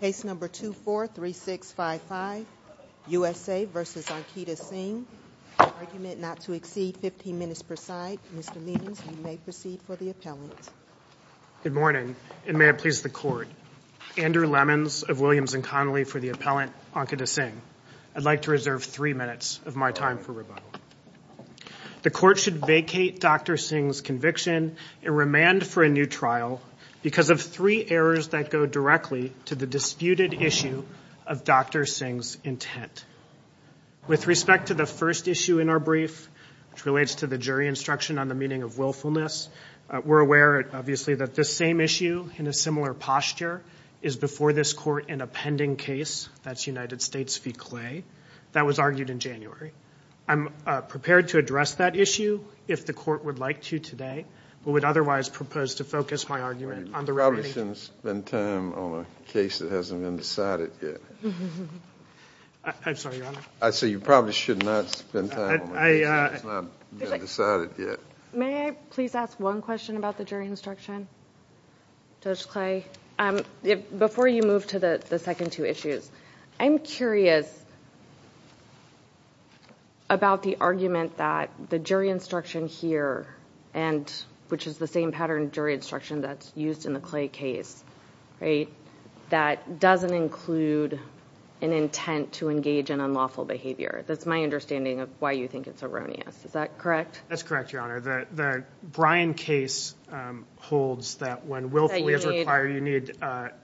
Case number 243655, USA v. Ankita Singh. Argument not to exceed 15 minutes per side. Mr. Meehan, you may proceed for the appellant. Good morning and may it please the court. Andrew Lemons of Williams & Connolly for the appellant, Ankita Singh. I'd like to reserve three minutes of my time for rebuttal. The court should vacate Dr. Singh's conviction and remand for a new trial because of three errors that go directly to the disputed issue of Dr. Singh's intent. With respect to the first issue in our brief, which relates to the jury instruction on the meaning of willfulness, we're aware obviously that this same issue in a similar posture is before this court in a pending case, that's United States v. Clay, that was argued in January. I'm prepared to address that issue if the court would like to today, but would otherwise propose to focus my argument on the case that hasn't been decided yet. I say you probably should not spend time on a case that hasn't been decided yet. May I please ask one question about the jury instruction, Judge Clay? Before you move to the second two issues, I'm curious about the argument that the jury instruction here and which is the same pattern jury instruction that's used in the Clay case, that doesn't include an intent to engage in unlawful behavior. That's my understanding of why you think it's erroneous. Is that correct? That's correct, Your Honor. The Bryan case holds that when willfully is required, you need,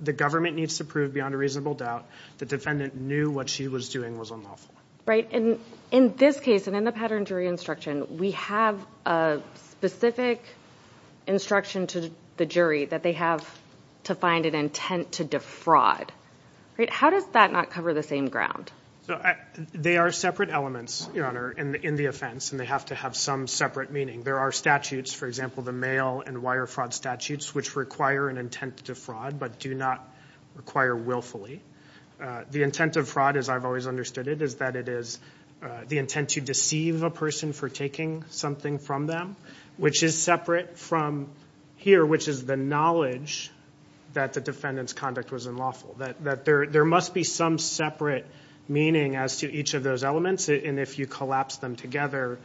the government needs to prove beyond a reasonable doubt the defendant knew what she was doing was unlawful. Right, and in this case and in the pattern jury instruction, we have a specific instruction to the jury that they have to find an intent to defraud. How does that not cover the same ground? They are separate elements, Your Honor, in the offense and they have to have some separate meaning. There are statutes, for example, the mail and wire fraud statutes which require an intent to defraud but do not require willfully. The intent of fraud, as I've always understood it, is that it is the intent to deceive a person for taking something from them, which is separate from here, which is the knowledge that the defendant's conduct was unlawful. That there must be some separate meaning as to each of those elements and if you collapse them together,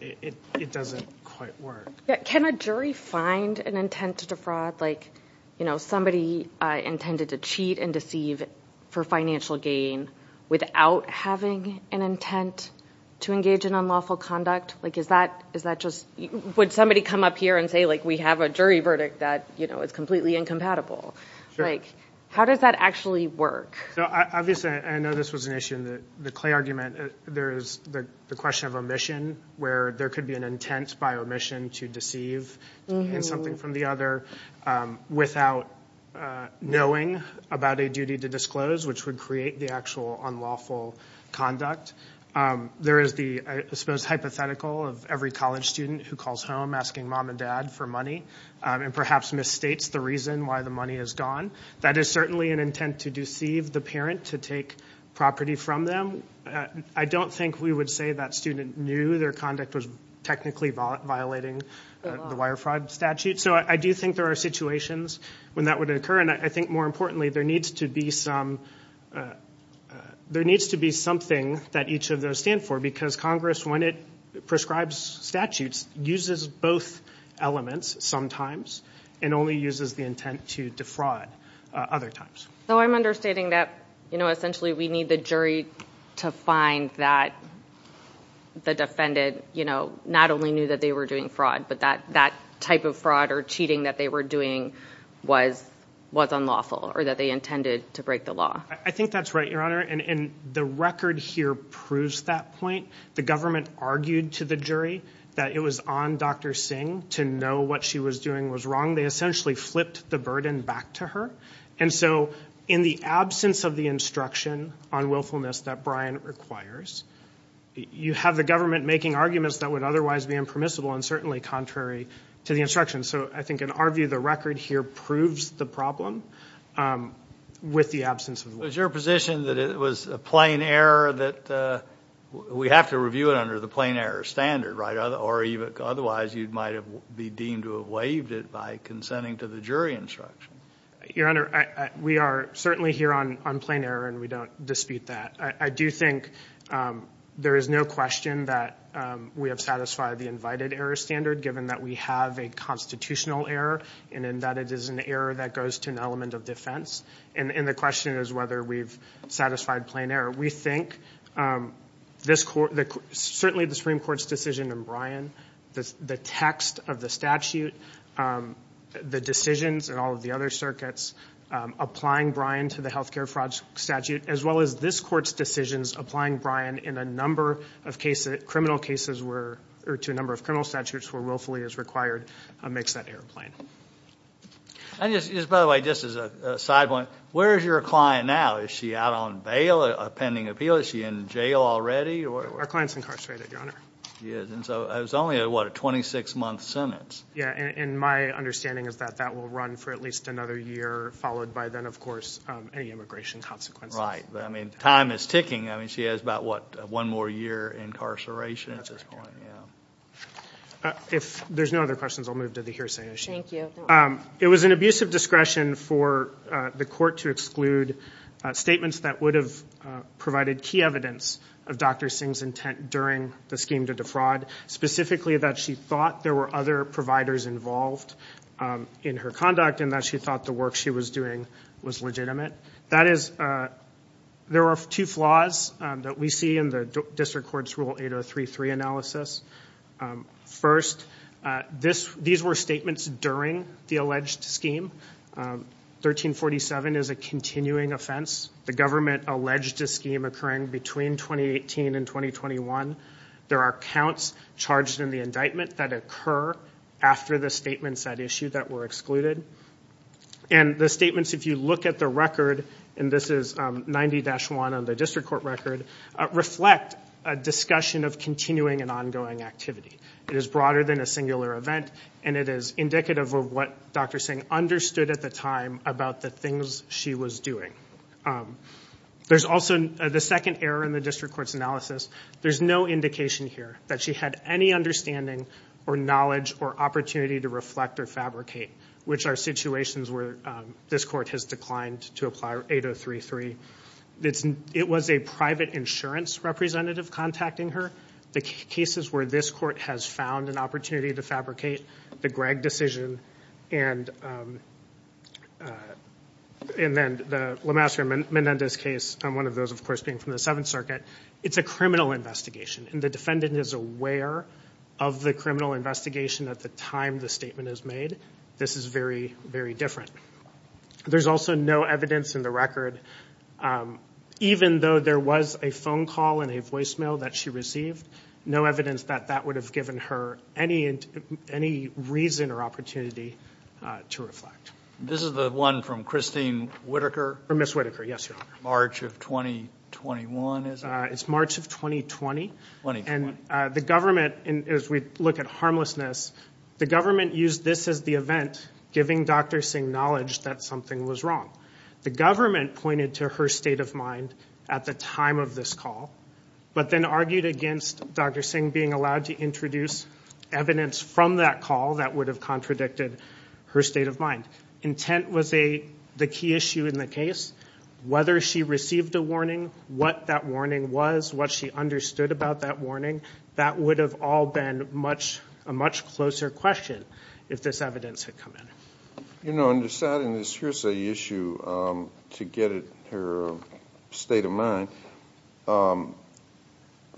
it doesn't quite work. Can a jury find an intent to defraud like, you know, somebody intended to cheat and deceive for financial gain without having an intent to engage in unlawful conduct? Like, is that just, would somebody come up here and say, like, we have a jury verdict that, you know, it's completely incompatible. Like, how does that actually work? Obviously, I know this was an issue in the Clay argument. There's the question of omission, where there could be an intent by omission to deceive in something from the other without knowing about a duty to disclose, which would create the actual unlawful conduct. There is the, I suppose, hypothetical of every college student who calls home asking mom and dad for money and perhaps misstates the reason why the money is gone. That is certainly an intent to deceive the parent to take property from them. I don't think we would say that student knew their conduct was technically violating the wire fraud statute. So, I do think there are situations when that would occur and I think, more importantly, there needs to be some, there needs to be something that each of those stand for because Congress, when it prescribes statutes, uses both elements sometimes and only uses the intent to defraud other times. So, I'm understanding that, you know, essentially we need the jury to find that the defendant, you know, not only knew that they were doing fraud, but that that type of fraud or cheating that they were doing was unlawful or that they intended to break the law. I think that's right, Your Honor, and the record here proves that point. The government argued to the jury that it was on Dr. Singh to know what she was doing was wrong. They essentially flipped the burden back to her and so in the absence of the instruction on willfulness that Bryan requires, you have the government making arguments that would otherwise be impermissible and certainly contrary to the instruction. So, I think, in our view, the record here proves the problem with the absence of the law. Is your position that it was a plain error that we have to review it under the plain error standard, right? Otherwise, you might have be deemed to have waived it by consenting to the jury instruction. Your Honor, we are certainly here on on plain error and we don't dispute that. I do think there is no question that we have satisfied the invited error standard given that we have a constitutional error and that it is an error that goes to an element of defense. The question is whether we've satisfied plain error. We think this court, certainly the Supreme Court's decision in Bryan, the text of the statute, the decisions and all of the other circuits applying Bryan to the health care fraud statute, as well as this court's decisions applying Bryan in a number of cases, criminal cases, to a number of criminal statutes where willfully is required, makes that error plain. By the way, just as a side point, where is your client now? Is she out on bail, a pending appeal? Is she in jail already? Our client is incarcerated, Your Honor. She is. So, it's only a 26-month sentence. Yeah, and my understanding is that will run for at least another year, followed by then, of course, any immigration consequences. Right. I mean, time is ticking. I mean, she has about, what, one more year of incarceration at this point. If there's no other questions, I'll move to the hearsay issue. Thank you. It was an abuse of discretion for the court to exclude statements that would have provided key evidence of Dr. Singh's intent during the scheme to defraud, specifically that she thought there were other providers involved in her conduct and that she thought the work she was doing was legitimate. That is, there are two flaws that we see in the District Court's Rule 8033 analysis. First, these were statements during the alleged scheme. 1347 is a continuing offense. The government alleged a scheme occurring between 2018 and 2021. There are counts charged in the indictment that occur after the statements at issue that were excluded. And the statements, if you look at the record, and this is 90-1 on the record, are a discussion of continuing and ongoing activity. It is broader than a singular event and it is indicative of what Dr. Singh understood at the time about the things she was doing. There's also the second error in the District Court's analysis. There's no indication here that she had any understanding or knowledge or opportunity to reflect or fabricate, which are situations where this court has declined to apply 8033. It was a private insurance representative contacting her. The cases where this court has found an opportunity to fabricate, the Gregg decision, and then the Lemaster and Menendez case, one of those, of course, being from the Seventh Circuit. It's a criminal investigation and the defendant is aware of the criminal investigation at the time the statement is made. This is very, very different. There's also no evidence in the record, even though there was a phone call and a voicemail that she received, no evidence that that would have given her any reason or opportunity to reflect. This is the one from Christine Whittaker? Ms. Whittaker, yes, Your Honor. March of 2021, is it? It's March of 2020. And the government, as we look at harmlessness, the government used this as the event, giving Dr. Singh knowledge that something was wrong. The government pointed to her state of mind at the time of this call, but then argued against Dr. Singh being allowed to introduce evidence from that call that would have contradicted her state of mind. Intent was the key issue in the case. Whether she received a warning, what that warning was, what she understood about that warning, that would have all been a much closer question if this evidence had come in. You know, in deciding this hearsay issue, to get her state of mind,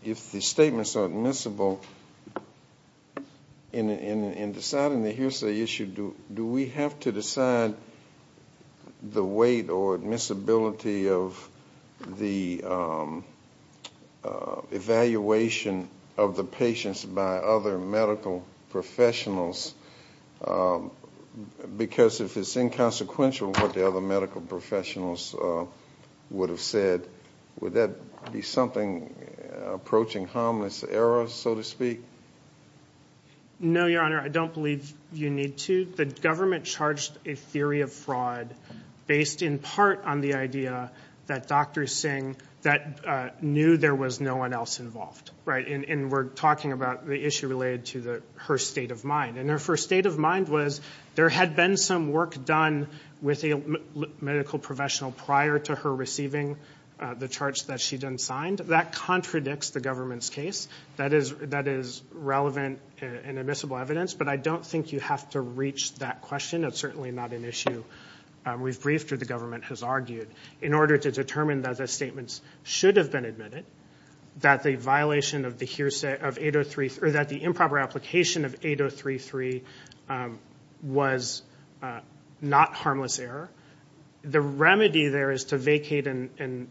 if the statements are admissible, in deciding the hearsay issue, do we have to decide the weight or admissibility of the evaluation of the patients by other medical professionals? Because if it's inconsequential what the other medical professionals would have said, would that be something approaching harmless error, so to speak? No, Your Honor, I don't believe you need to. The government charged a theory of fraud based in part on the idea that Dr. Singh knew there was no one else involved. And we're talking about the issue related to her state of mind. And if her state of mind was there had been some work done with a medical professional prior to her receiving the charge that she then signed, that contradicts the government's case. That is relevant and admissible evidence, but I don't think you have to reach that question. It's certainly not an issue we've briefed or the government has argued. In order to determine that the statements should have been admitted, that the violation of the hearsay of 8033, or that the improper application of 8033 was not harmless error, the remedy there is to vacate and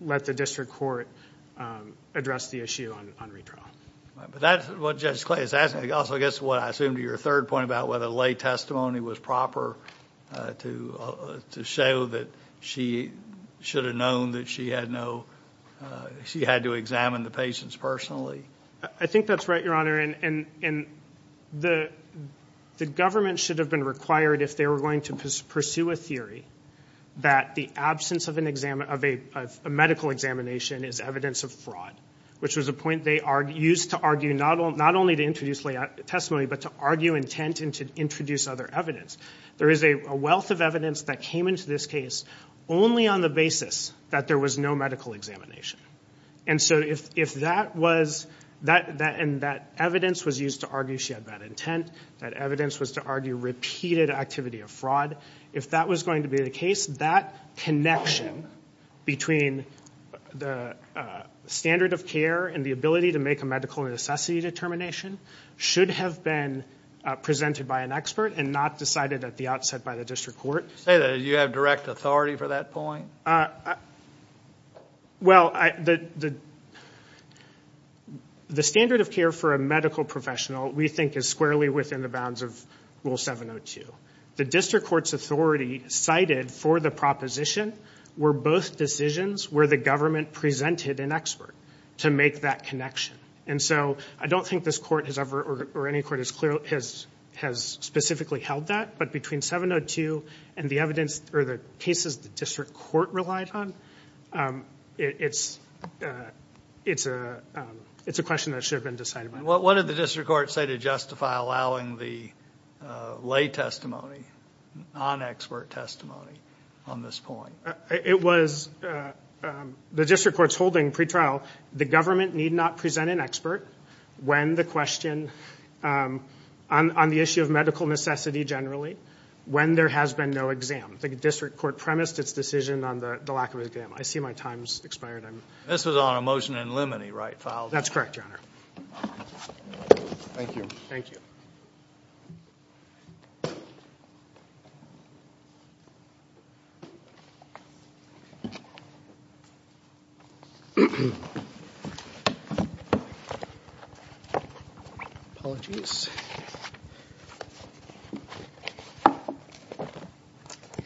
let the district court address the issue on retrial. But that's what Judge Clay is asking. Also, I guess what I assume to your third point about whether lay testimony was proper to show that she should have known that she had to examine the patients personally. I think that's right, Your Honor. And the government should have been required if they were going to pursue a theory that the absence of a medical examination is evidence of fraud, which was a point they used to argue not only to introduce lay testimony, but to argue intent and to introduce other evidence. There is a wealth of evidence that came into this case only on the basis that there was no medical examination. And so if that evidence was used to argue she had bad intent, that evidence was used to argue repeated activity of fraud, if that was going to be the case, that connection between the standard of care and the ability to make a medical necessity determination should have been presented by an expert and not decided at the outset by the district court. Say that, do you have direct authority for that point? Well, the standard of care for a medical professional, we think, is squarely within the bounds of Rule 702. The district court's authority cited for the proposition were both decisions where the government presented an expert to make that connection. And so I don't think this court has ever or any court has specifically held that, but between 702 and the evidence or the cases the district court relied on, it's a question that should have been decided by the district court. What did the district court say to justify allowing the lay testimony, non-expert testimony on this point? It was, the district court's holding pretrial, the government need not present an expert when the question, on the issue of medical necessity generally, when there has been no exam. The district court premised its decision on the lack of an exam. I see my time's expired. This was on a motion in limine, right, Fowler? That's correct, Your Honor. Thank you. Thank you. Apologies.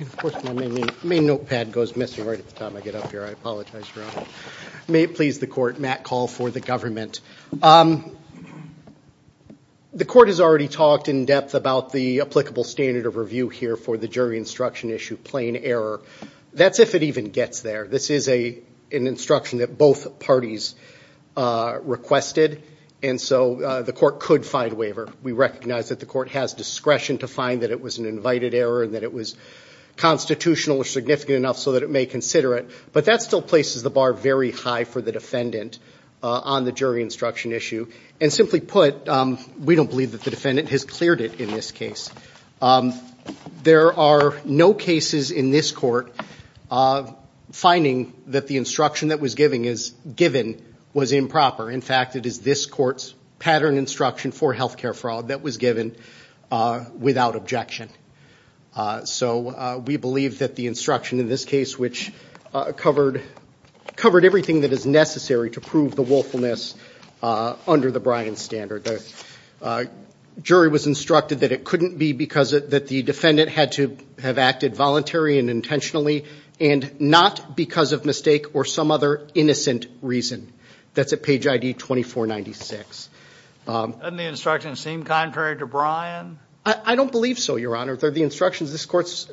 Of course, my main notepad goes missing right at the time I get up here. I apologize, Your Honor. May it please the court, Matt Call for the government. The court has already talked in depth about the applicable standard of review here for the jury instruction issue, plain error. That's if it even gets there. This is an instruction that both parties requested, and so the court could find waiver. We recognize that the court has discretion to find that it was an invited error and that it was constitutional or significant enough so that it may consider it, but that still places the bar very high for the defendant on the jury instruction issue. And simply put, we don't believe that the defendant has cleared it in this case. There are no cases in this court finding that the instruction that was given was improper. In fact, it is this court's pattern instruction for health care fraud that was given without objection. So we believe that the instruction in this case which covered everything that is necessary to prove the willfulness under the Bryan standard. The jury was instructed that it couldn't be because the defendant had to have acted voluntary and intentionally and not because of mistake or some other innocent reason. That's at page ID 2496. Doesn't the instruction seem contrary to Bryan? I don't believe so, Your Honor. The instructions, this court's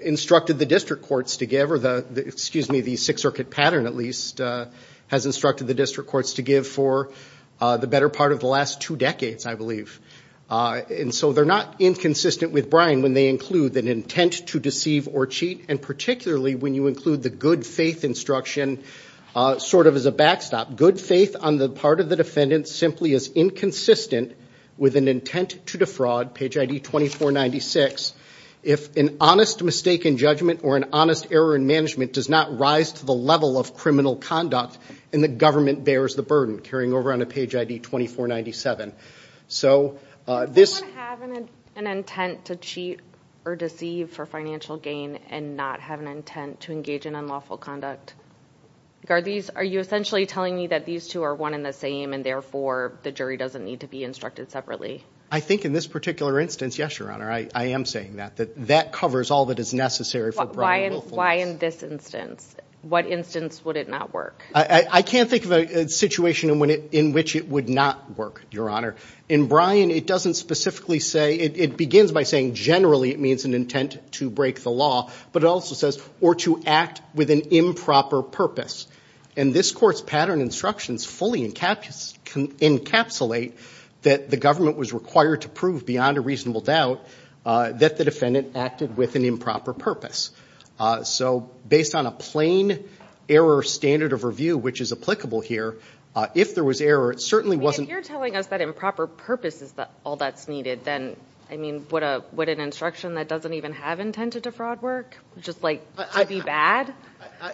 instructed the district courts to give, or excuse me, the Sixth Circuit pattern at least has instructed the district courts to give for the better part of the last two decades, I believe. And so they're not inconsistent with Bryan when they include an intent to deceive or cheat, and particularly when you include the good faith instruction sort of as a backstop. Good faith on the part of the defendant simply is inconsistent with an intent to defraud, page ID 2496. If an honest mistake in judgment or an honest error in management does not rise to the level of criminal conduct and the government bears the burden, carrying over on a page ID 2497. So this... Does anyone have an intent to cheat or deceive for financial gain and not have an intent to engage in unlawful conduct? Are you essentially telling me that these two are one and the same and therefore the jury doesn't need to be instructed separately? I think in this particular instance, yes, Your Honor, I am saying that. That covers all that is necessary for Bryan willfulness. Why in this instance? What instance would it not work? I can't think of a situation in which it would not work, Your Honor. In Bryan, it doesn't specifically say, it begins by saying generally it means an intent to break the law, but it also says or to act with an improper purpose. And this court's pattern instructions fully encapsulate that the government was required to prove beyond a reasonable doubt that the defendant acted with an improper purpose. So based on a plain error standard of review, which is applicable here, if there was error, it certainly wasn't... If you're telling us that improper purpose is all that's needed, then, I mean, would an instruction that doesn't even have intent to defraud work? Just like to be bad?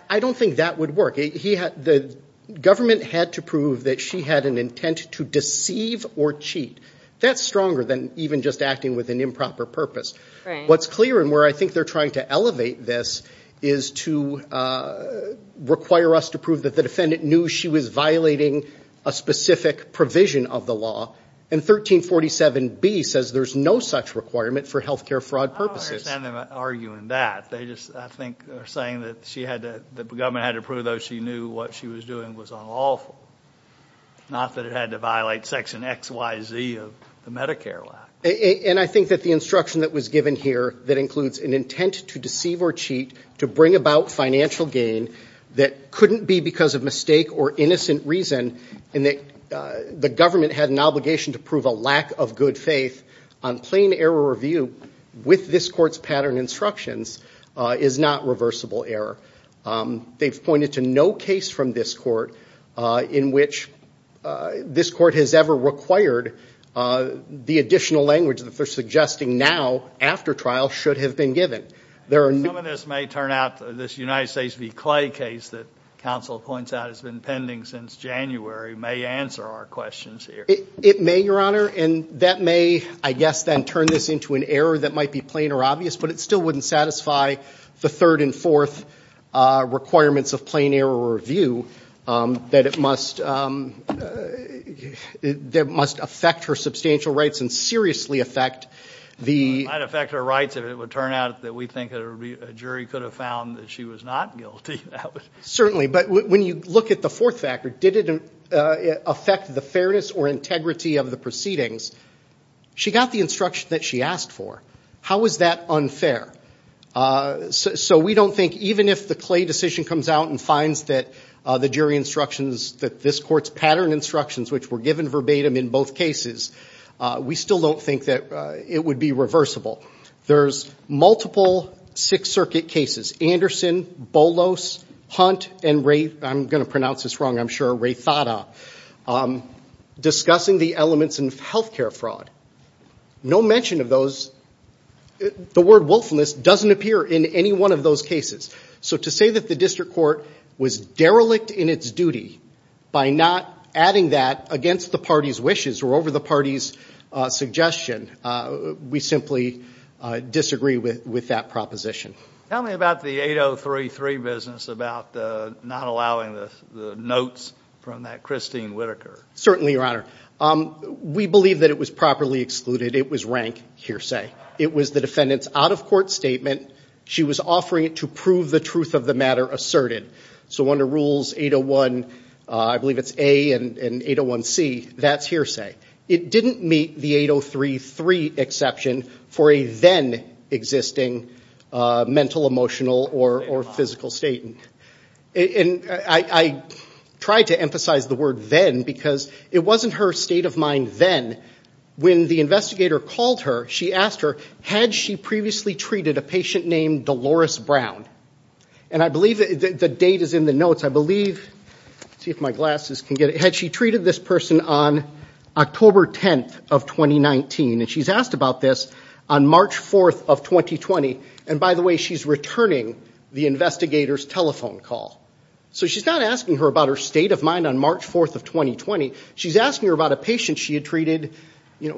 I don't think that would work. The government had to prove that she had an intent to deceive or cheat. That's stronger than even just acting with an improper purpose. What's clear and where I think they're trying to elevate this is to require us to prove that the defendant knew she was violating a specific provision of the law. And 1347B says there's no such requirement for health care fraud purposes. I don't understand them arguing that. They just, I think, are saying that the government had to prove, though, she knew what she was doing was unlawful. Not that it had to violate section XYZ of the Medicare law. And I think that the instruction that was given here that includes an intent to deceive or cheat to bring about financial gain that couldn't be because of mistake or innocent reason and that the government had an obligation to prove a lack of good faith on plain error review with this court's pattern instructions is not reversible error. They've pointed to no case from this court in which this court has ever required the additional language that they're suggesting now after trial should have been given. Some of this may turn out, this United States v. Clay case that counsel points out has been pending since January may answer our questions here. It may, Your Honor, and that may, I guess, then turn this into an error that might be plain or obvious, but it still wouldn't satisfy the third and fourth requirements of plain error review that it must affect her substantial rights and seriously affect the... It might affect her rights if it would turn out that we think a jury could have found that she was not guilty. Certainly. But when you look at the fourth factor, did it affect the fairness or integrity of the proceedings? She got the instruction that she asked for. How is that unfair? So we don't think even if the Clay decision comes out and finds that the jury instructions, that this court's pattern instructions, which were given verbatim in both cases, we still don't think that it would be reversible. There's multiple Sixth Circuit cases, Anderson, Bolos, Hunt, and Ray, I'm going to pronounce this wrong, I'm sure, Ray Thada, discussing the elements in health care fraud. No mention of those, the word willfulness doesn't appear in any one of those cases. So to say that the district court was derelict in its duty by not adding that against the party's wishes or over the party's suggestion, we simply disagree with that proposition. Tell me about the 8033 business about not allowing the notes from that Christine Whitaker. Certainly, Your Honor. We believe that it was properly excluded. It was rank hearsay. It was the defendant's out-of-court statement. She was offering it to prove the truth of the matter asserted. So under Rules 801, I believe it's A and 801C, that's hearsay. It didn't meet the 8033 exception for a then existing mental, emotional, or physical statement. And I try to emphasize the word then because it wasn't her state of mind then. When the investigator called her, she asked her, had she previously treated a patient named Dolores Brown? And I believe the date is in the notes. I believe, let's see if my glasses can get it, had she treated this person on October 10th of 2019? And she's asked about this on March 4th of 2020. And by the way, she's returning the investigator's telephone call. So she's not asking her about her state of mind on March 4th of 2020. She's asking her about a patient she had treated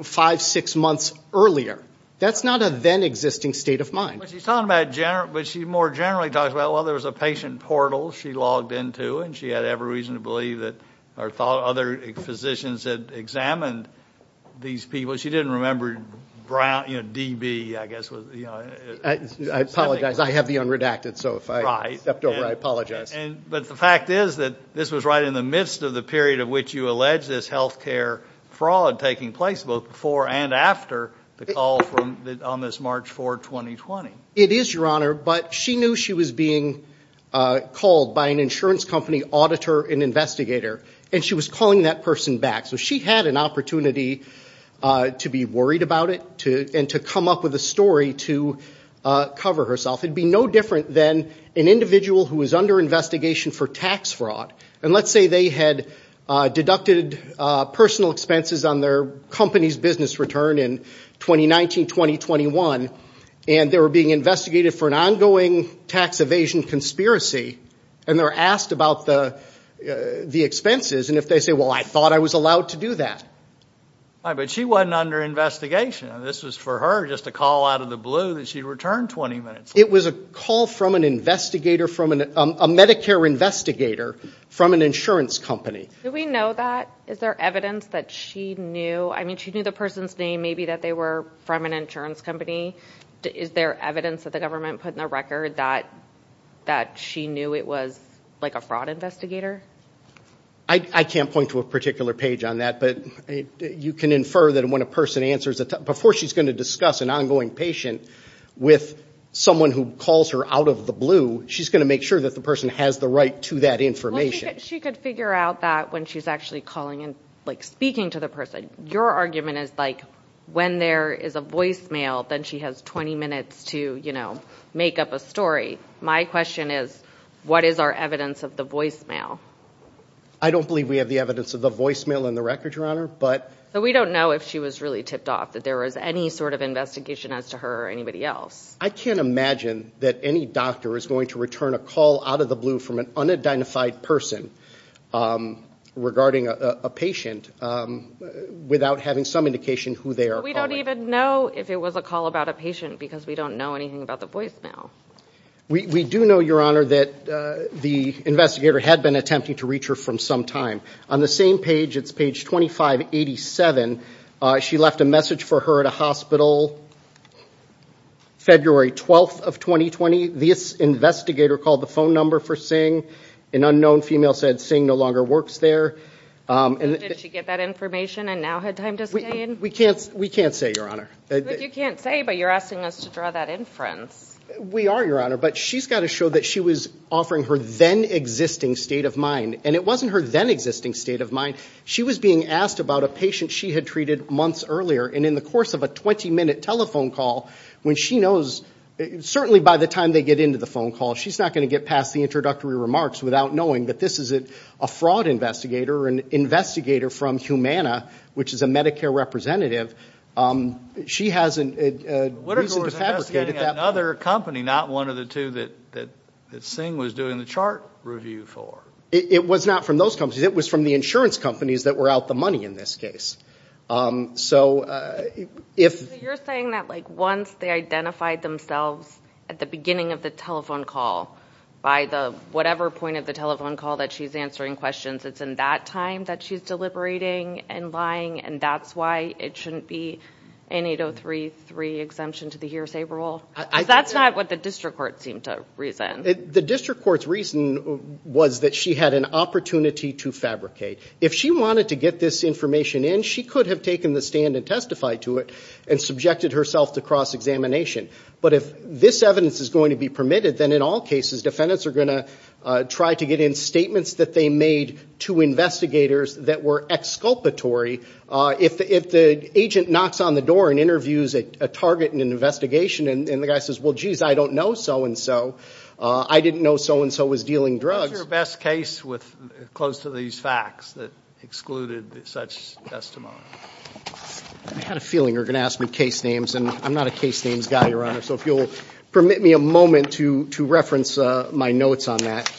five, six months earlier. That's not a then existing state of mind. But she's talking about, but she more generally talks about, well, there was a patient portal she logged into and she had every reason to believe that, or thought other physicians had examined these people. She didn't remember Brown, you know, DB, I guess was, you know. I apologize. I have the unredacted. So if I stepped over, I apologize. But the fact is that this was right in the midst of the period of which you allege this healthcare fraud taking place both before and after the call on this March 4th, 2020. It is, Your Honor, but she knew she was being called by an insurance company auditor and she was calling that person back. So she had an opportunity to be worried about it and to come up with a story to cover herself. It'd be no different than an individual who was under investigation for tax fraud. And let's say they had deducted personal expenses on their company's business return in 2019, 2021, and they were being investigated for an ongoing tax evasion conspiracy and they asked about the expenses and if they say, well, I thought I was allowed to do that. But she wasn't under investigation. This was for her, just a call out of the blue that she returned 20 minutes later. It was a call from an investigator from a Medicare investigator from an insurance company. Do we know that? Is there evidence that she knew? I mean, she knew the person's name, maybe that they were from an insurance company. Is there evidence that the government put in the record that she knew it was like a fraud investigator? I can't point to a particular page on that, but you can infer that when a person answers a... before she's going to discuss an ongoing patient with someone who calls her out of the blue, she's going to make sure that the person has the right to that information. She could figure out that when she's actually calling and speaking to the person. Your argument is like when there is a voicemail, then she has 20 minutes to, you know, make up a story. My question is, what is our evidence of the voicemail? I don't believe we have the evidence of the voicemail in the record, Your Honor, but... So we don't know if she was really tipped off, that there was any sort of investigation as to her or anybody else. I can't imagine that any doctor is going to return a call out of the blue from an unidentified person regarding a patient without having some indication who they are calling. We don't even know if it was a call about a patient because we don't know anything about the voicemail. We do know, Your Honor, that the investigator had been attempting to reach her for some time. On the same page, it's page 2587, she left a message for her at a hospital. February 12th of 2020, this investigator called the phone number for Singh. An unknown female said Singh no longer works there. Did she get that information and now had time to stay in? We can't say, Your Honor. You can't say, but you're asking us to draw that inference. We are, Your Honor, but she's got to show that she was offering her then existing state of mind. And it wasn't her then existing state of mind. She was being asked about a patient she had treated months earlier. And in the course of a 20 minute telephone call, when she knows, certainly by the time they get into the phone call, she's not going to get past the introductory remarks without knowing that this is a fraud investigator, an investigator from Humana, which is a Medicare representative. She has a reason to fabricate it that way. Whittaker was investigating another company, not one of the two that Singh was doing the chart review for. It was not from those companies. It was from the insurance companies that were out the money in this case. So if... So you're saying that like once they identified themselves at the beginning of the telephone call, by the whatever point of the telephone call that she's answering questions, it's in that time that she's deliberating and lying and that's why it shouldn't be an 8033 exemption to the hearsay rule? That's not what the district court seemed to reason. The district court's reason was that she had an opportunity to fabricate. If she wanted to get this information in, she could have taken the stand and testified to it and subjected herself to cross-examination. But if this evidence is going to be permitted, then in all cases, defendants are going to try to get in statements that they made to investigators that were exculpatory. If the agent knocks on the door and interviews a target in an investigation and the guy says, well, jeez, I don't know so-and-so, I didn't know so-and-so was dealing drugs... What's your best case close to these facts that excluded such testimony? I had a feeling you were going to ask me case names and I'm not a case names guy, Your Honor, so if you'll permit me a moment to reference my notes on that.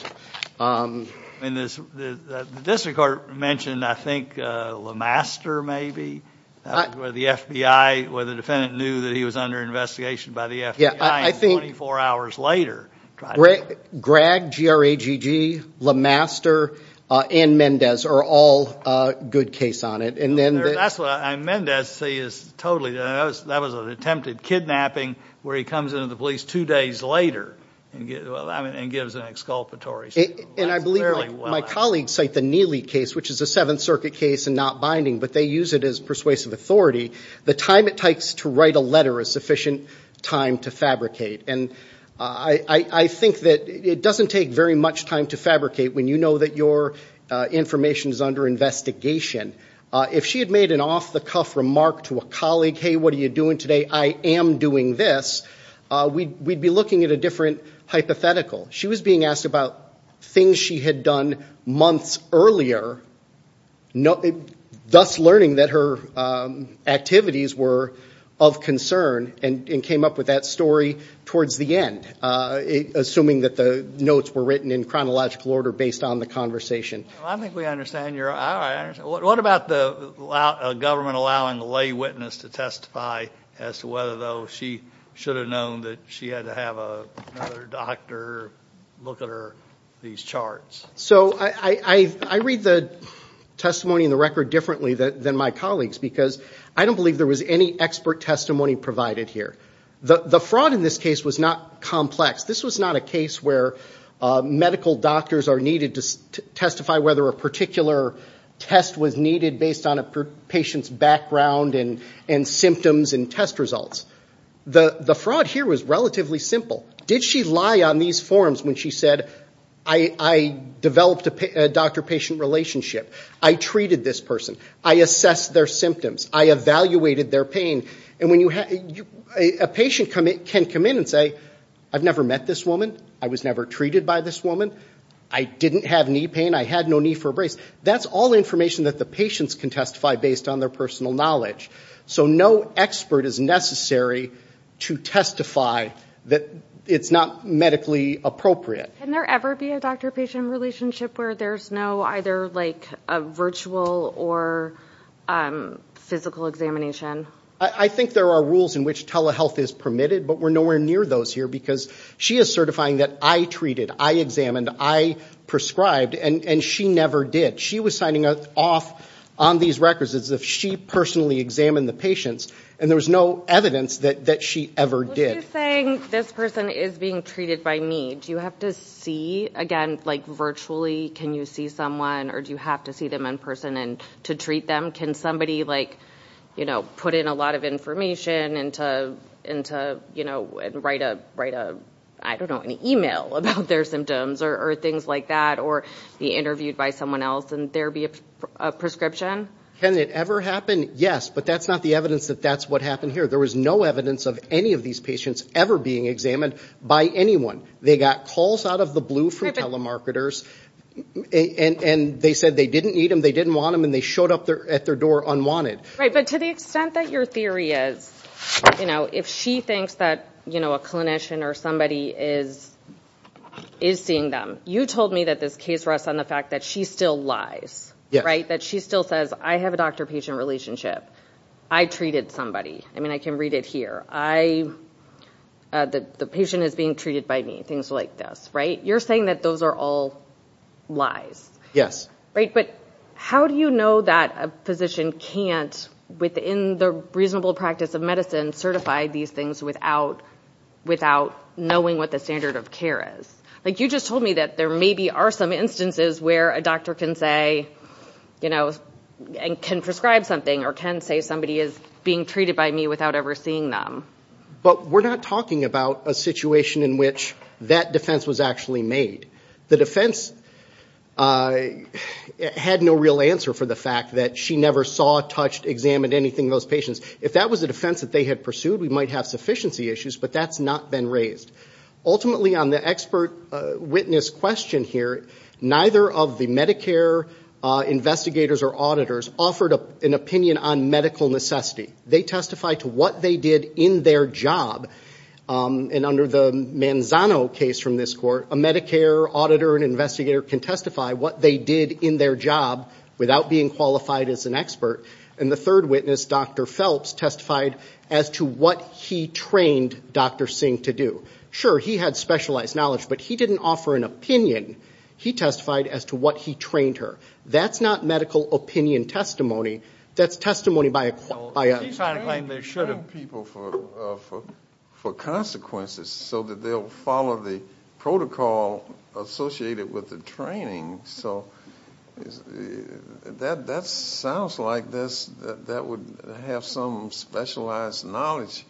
The district court mentioned, I think, LeMaster maybe, where the FBI, where the defendant knew that he was under investigation by the FBI and 24 hours later... Gregg, G-R-A-G-G, LeMaster, and Mendez are all good case on it and then... That's what I... Mendez, see, is totally... That was an attempted kidnapping where he comes into the police two days later and gives an exculpatory statement. And I believe my colleagues cite the Neely case, which is a Seventh Circuit case and not binding, but they use it as persuasive authority. The time it takes to write a letter or a sufficient time to fabricate. And I think that it doesn't take very much time to fabricate when you know that your information is under investigation. If she had made an off-the-cuff remark to a colleague, hey, what are you doing today? I am doing this, we'd be looking at a different hypothetical. She was being asked about things she had done months earlier, thus learning that her activities were of concern and came up with that story towards the end, assuming that the notes were written in chronological order based on the conversation. I think we understand your... What about the government allowing a lay witness to testify as to whether, though, she should have known that she had to have another doctor look at her, these charts? So I read the testimony in the record differently than my colleagues because I don't believe there was any expert testimony provided here. The fraud in this case was not complex. This was not a case where medical doctors are needed to testify whether a particular test was needed based on a patient's background and symptoms and test results. The fraud here was relatively simple. Did she lie on these forms when she said, I developed a doctor-patient relationship, I treated this person, I assessed their symptoms, I evaluated their pain, and when you have... A patient can come in and say, I've never met this woman, I was never treated by this woman, I didn't have knee pain, I had no knee for a brace. That's all information that the patients can testify based on their personal knowledge. So no expert is necessary to testify that it's not medically appropriate. Can there ever be a doctor-patient relationship where there's no either like a virtual or physical examination? I think there are rules in which telehealth is permitted, but we're nowhere near those here because she is certifying that I treated, I examined, I prescribed, and she never did. She was signing off on these records as if she personally examined the patients, and there was no evidence that she ever did. So she's saying, this person is being treated by me. Do you have to see, again, like virtually, can you see someone, or do you have to see them in person to treat them? Can somebody like, you know, put in a lot of information and to, you know, write a, I don't know, an email about their symptoms or things like that, or be interviewed by someone else and there be a prescription? Can it ever happen? Yes, but that's not the evidence that that's what happened here. There was no evidence of any of these patients ever being examined by anyone. They got calls out of the blue from telemarketers, and they said they didn't need them, they didn't want them, and they showed up at their door unwanted. Right, but to the extent that your theory is, you know, if she thinks that, you know, a clinician or somebody is seeing them, you told me that this case rests on the fact that she still lies, right? That she still says, I have a doctor-patient relationship. I treated somebody. I mean, I can read it here. I, the patient is being treated by me, things like this, right? You're saying that those are all lies. Yes. Right, but how do you know that a physician can't, within the reasonable practice of medicine, certify these things without knowing what the standard of care is? Like, you just told me that there maybe are some instances where a doctor can say, you know, and can prescribe something or can say somebody is being treated by me without ever seeing them. But we're not talking about a situation in which that defense was actually made. The defense had no real answer for the fact that she never saw, touched, examined anything of those patients. If that was a defense that they had pursued, we might have sufficiency issues, but that's not been raised. Ultimately, on the expert witness question here, neither of the Medicare investigators or auditors offered an opinion on medical necessity. They testified to what they did in their job. And under the Manzano case from this court, a Medicare auditor and investigator can testify what they did in their job without being qualified as an expert. And the third witness, Dr. Phelps, testified as to what he trained Dr. Singh to do. Sure, he had specialized knowledge, but he didn't offer an opinion. He testified as to what he trained her. That's not medical opinion testimony. That's testimony by a... He's trying to claim they should have people for consequences so that they'll follow the protocol associated with the training. So that sounds like that would have some specialized knowledge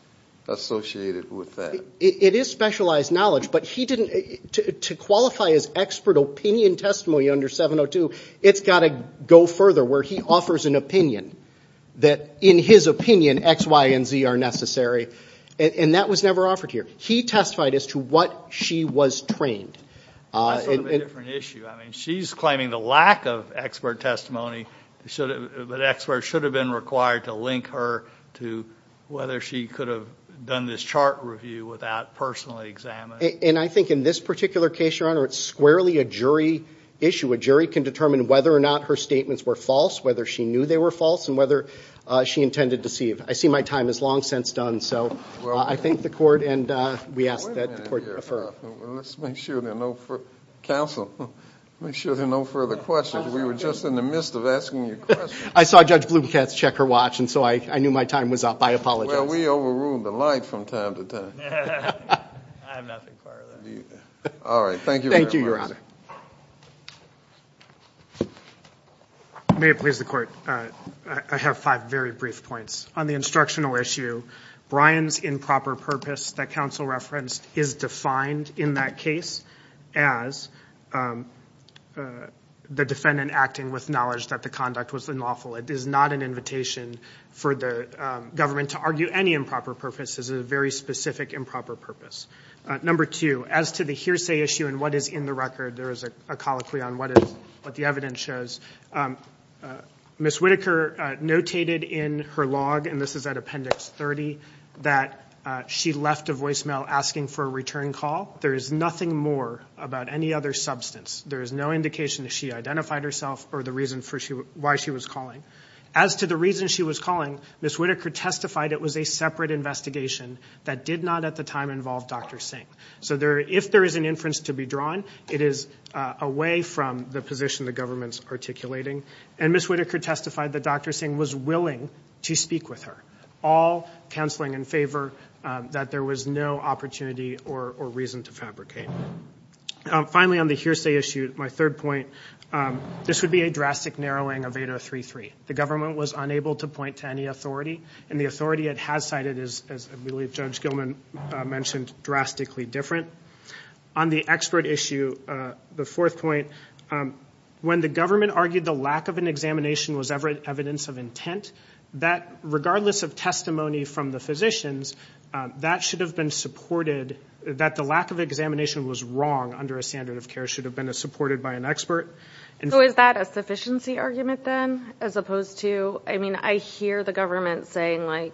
associated with that. It is specialized knowledge, but he didn't... To qualify as expert opinion testimony under 702, it's got to go further where he offers an opinion that in his opinion, X, Y, and Z are necessary. And that was never offered here. He testified as to what she was trained. That's sort of a different issue. I mean, she's claiming the lack of expert testimony, but experts should have been required to link her to whether she could have done this chart review without personally examining... And I think in this particular case, Your Honor, it's squarely a jury issue. A jury can determine whether or not her statements were false, whether she knew they were false, and whether she intended to deceive. I see my time is long since done, so I thank the court, and we ask that the court defer. Wait a minute here. Let's make sure there are no further... Counsel, make sure there are no further questions. We were just in the midst of asking you questions. I saw Judge Blumkatz check her watch, and so I knew my time was up. I apologize. Well, we overruled the light from time to time. I have nothing prior to that. All right. Thank you very much. Thank you, Your Honor. May it please the court. I have five very brief points. On the instructional issue, Brian's improper purpose that counsel referenced is defined in that case as the defendant acting with knowledge that the conduct was unlawful. It is not an invitation for the government to argue any improper purpose. This is a very specific improper purpose. Number two, as to the hearsay issue and what is in the record, there is a colloquy on what the evidence shows. Ms. Whitaker notated in her log, and this is at Appendix 30, that she left a voicemail asking for a return call. There is nothing more about any other substance. There is no indication that she identified herself or the reason for why she was calling. As to the reason she was calling, Ms. Whitaker testified it was a separate investigation that did not at the time involve Dr. Singh. So if there is an inference to be drawn, it is away from the position the government's articulating. And Ms. Whitaker testified that Dr. Singh was willing to speak with her, all counseling in favor that there was no opportunity or reason to fabricate. Finally, on the hearsay issue, my third point, this would be a drastic narrowing of 8033. The government was unable to point to any authority, and the authority it has cited is, as I believe Judge Gilman mentioned, drastically different. On the expert issue, the fourth point, when the government argued the lack of an examination was evidence of intent, that regardless of testimony from the physicians, that should have been supported, that the lack of examination was wrong under a standard of care should have been supported by an expert. So is that a sufficiency argument then, as opposed to, I mean I hear the government saying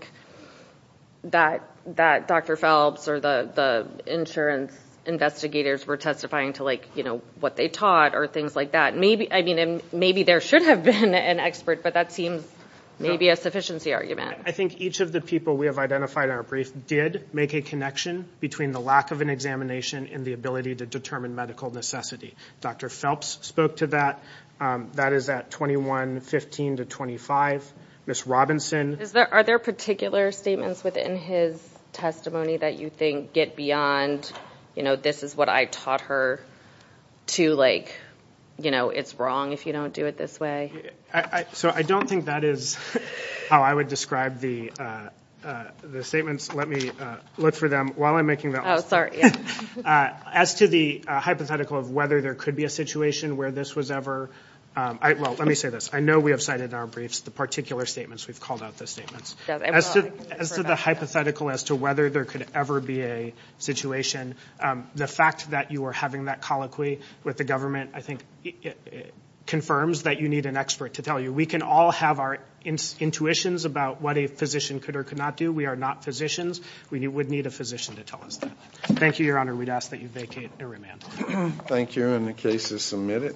that Dr. Phelps or the insurance investigators were testifying to what they taught or things like that. Maybe there should have been an expert, but that seems maybe a sufficiency argument. I think each of the people we have identified in our brief did make a connection between the lack of an examination and the ability to determine medical necessity. Dr. Phelps spoke to that. That is at 2115 to 25. Ms. Robinson. Are there particular statements within his testimony that you think get beyond, you know, this is what I taught her, to like, you know, it's wrong if you don't do it this way? So I don't think that is how I would describe the statements. Let me look for them. While I'm making that last point, as to the hypothetical of whether there could be a situation where this was ever, well, let me say this. I know we have cited in our briefs the particular statements. We've called out those statements. As to the hypothetical as to whether there could ever be a situation, the fact that you are having that colloquy with the government, I think, confirms that you need an expert to tell you. We can all have our intuitions about what a physician could or could not do. We are not physicians. We would need a physician to tell us that. Thank you, Your Honor. We'd ask that you vacate and remand. Thank you. And the case is submitted.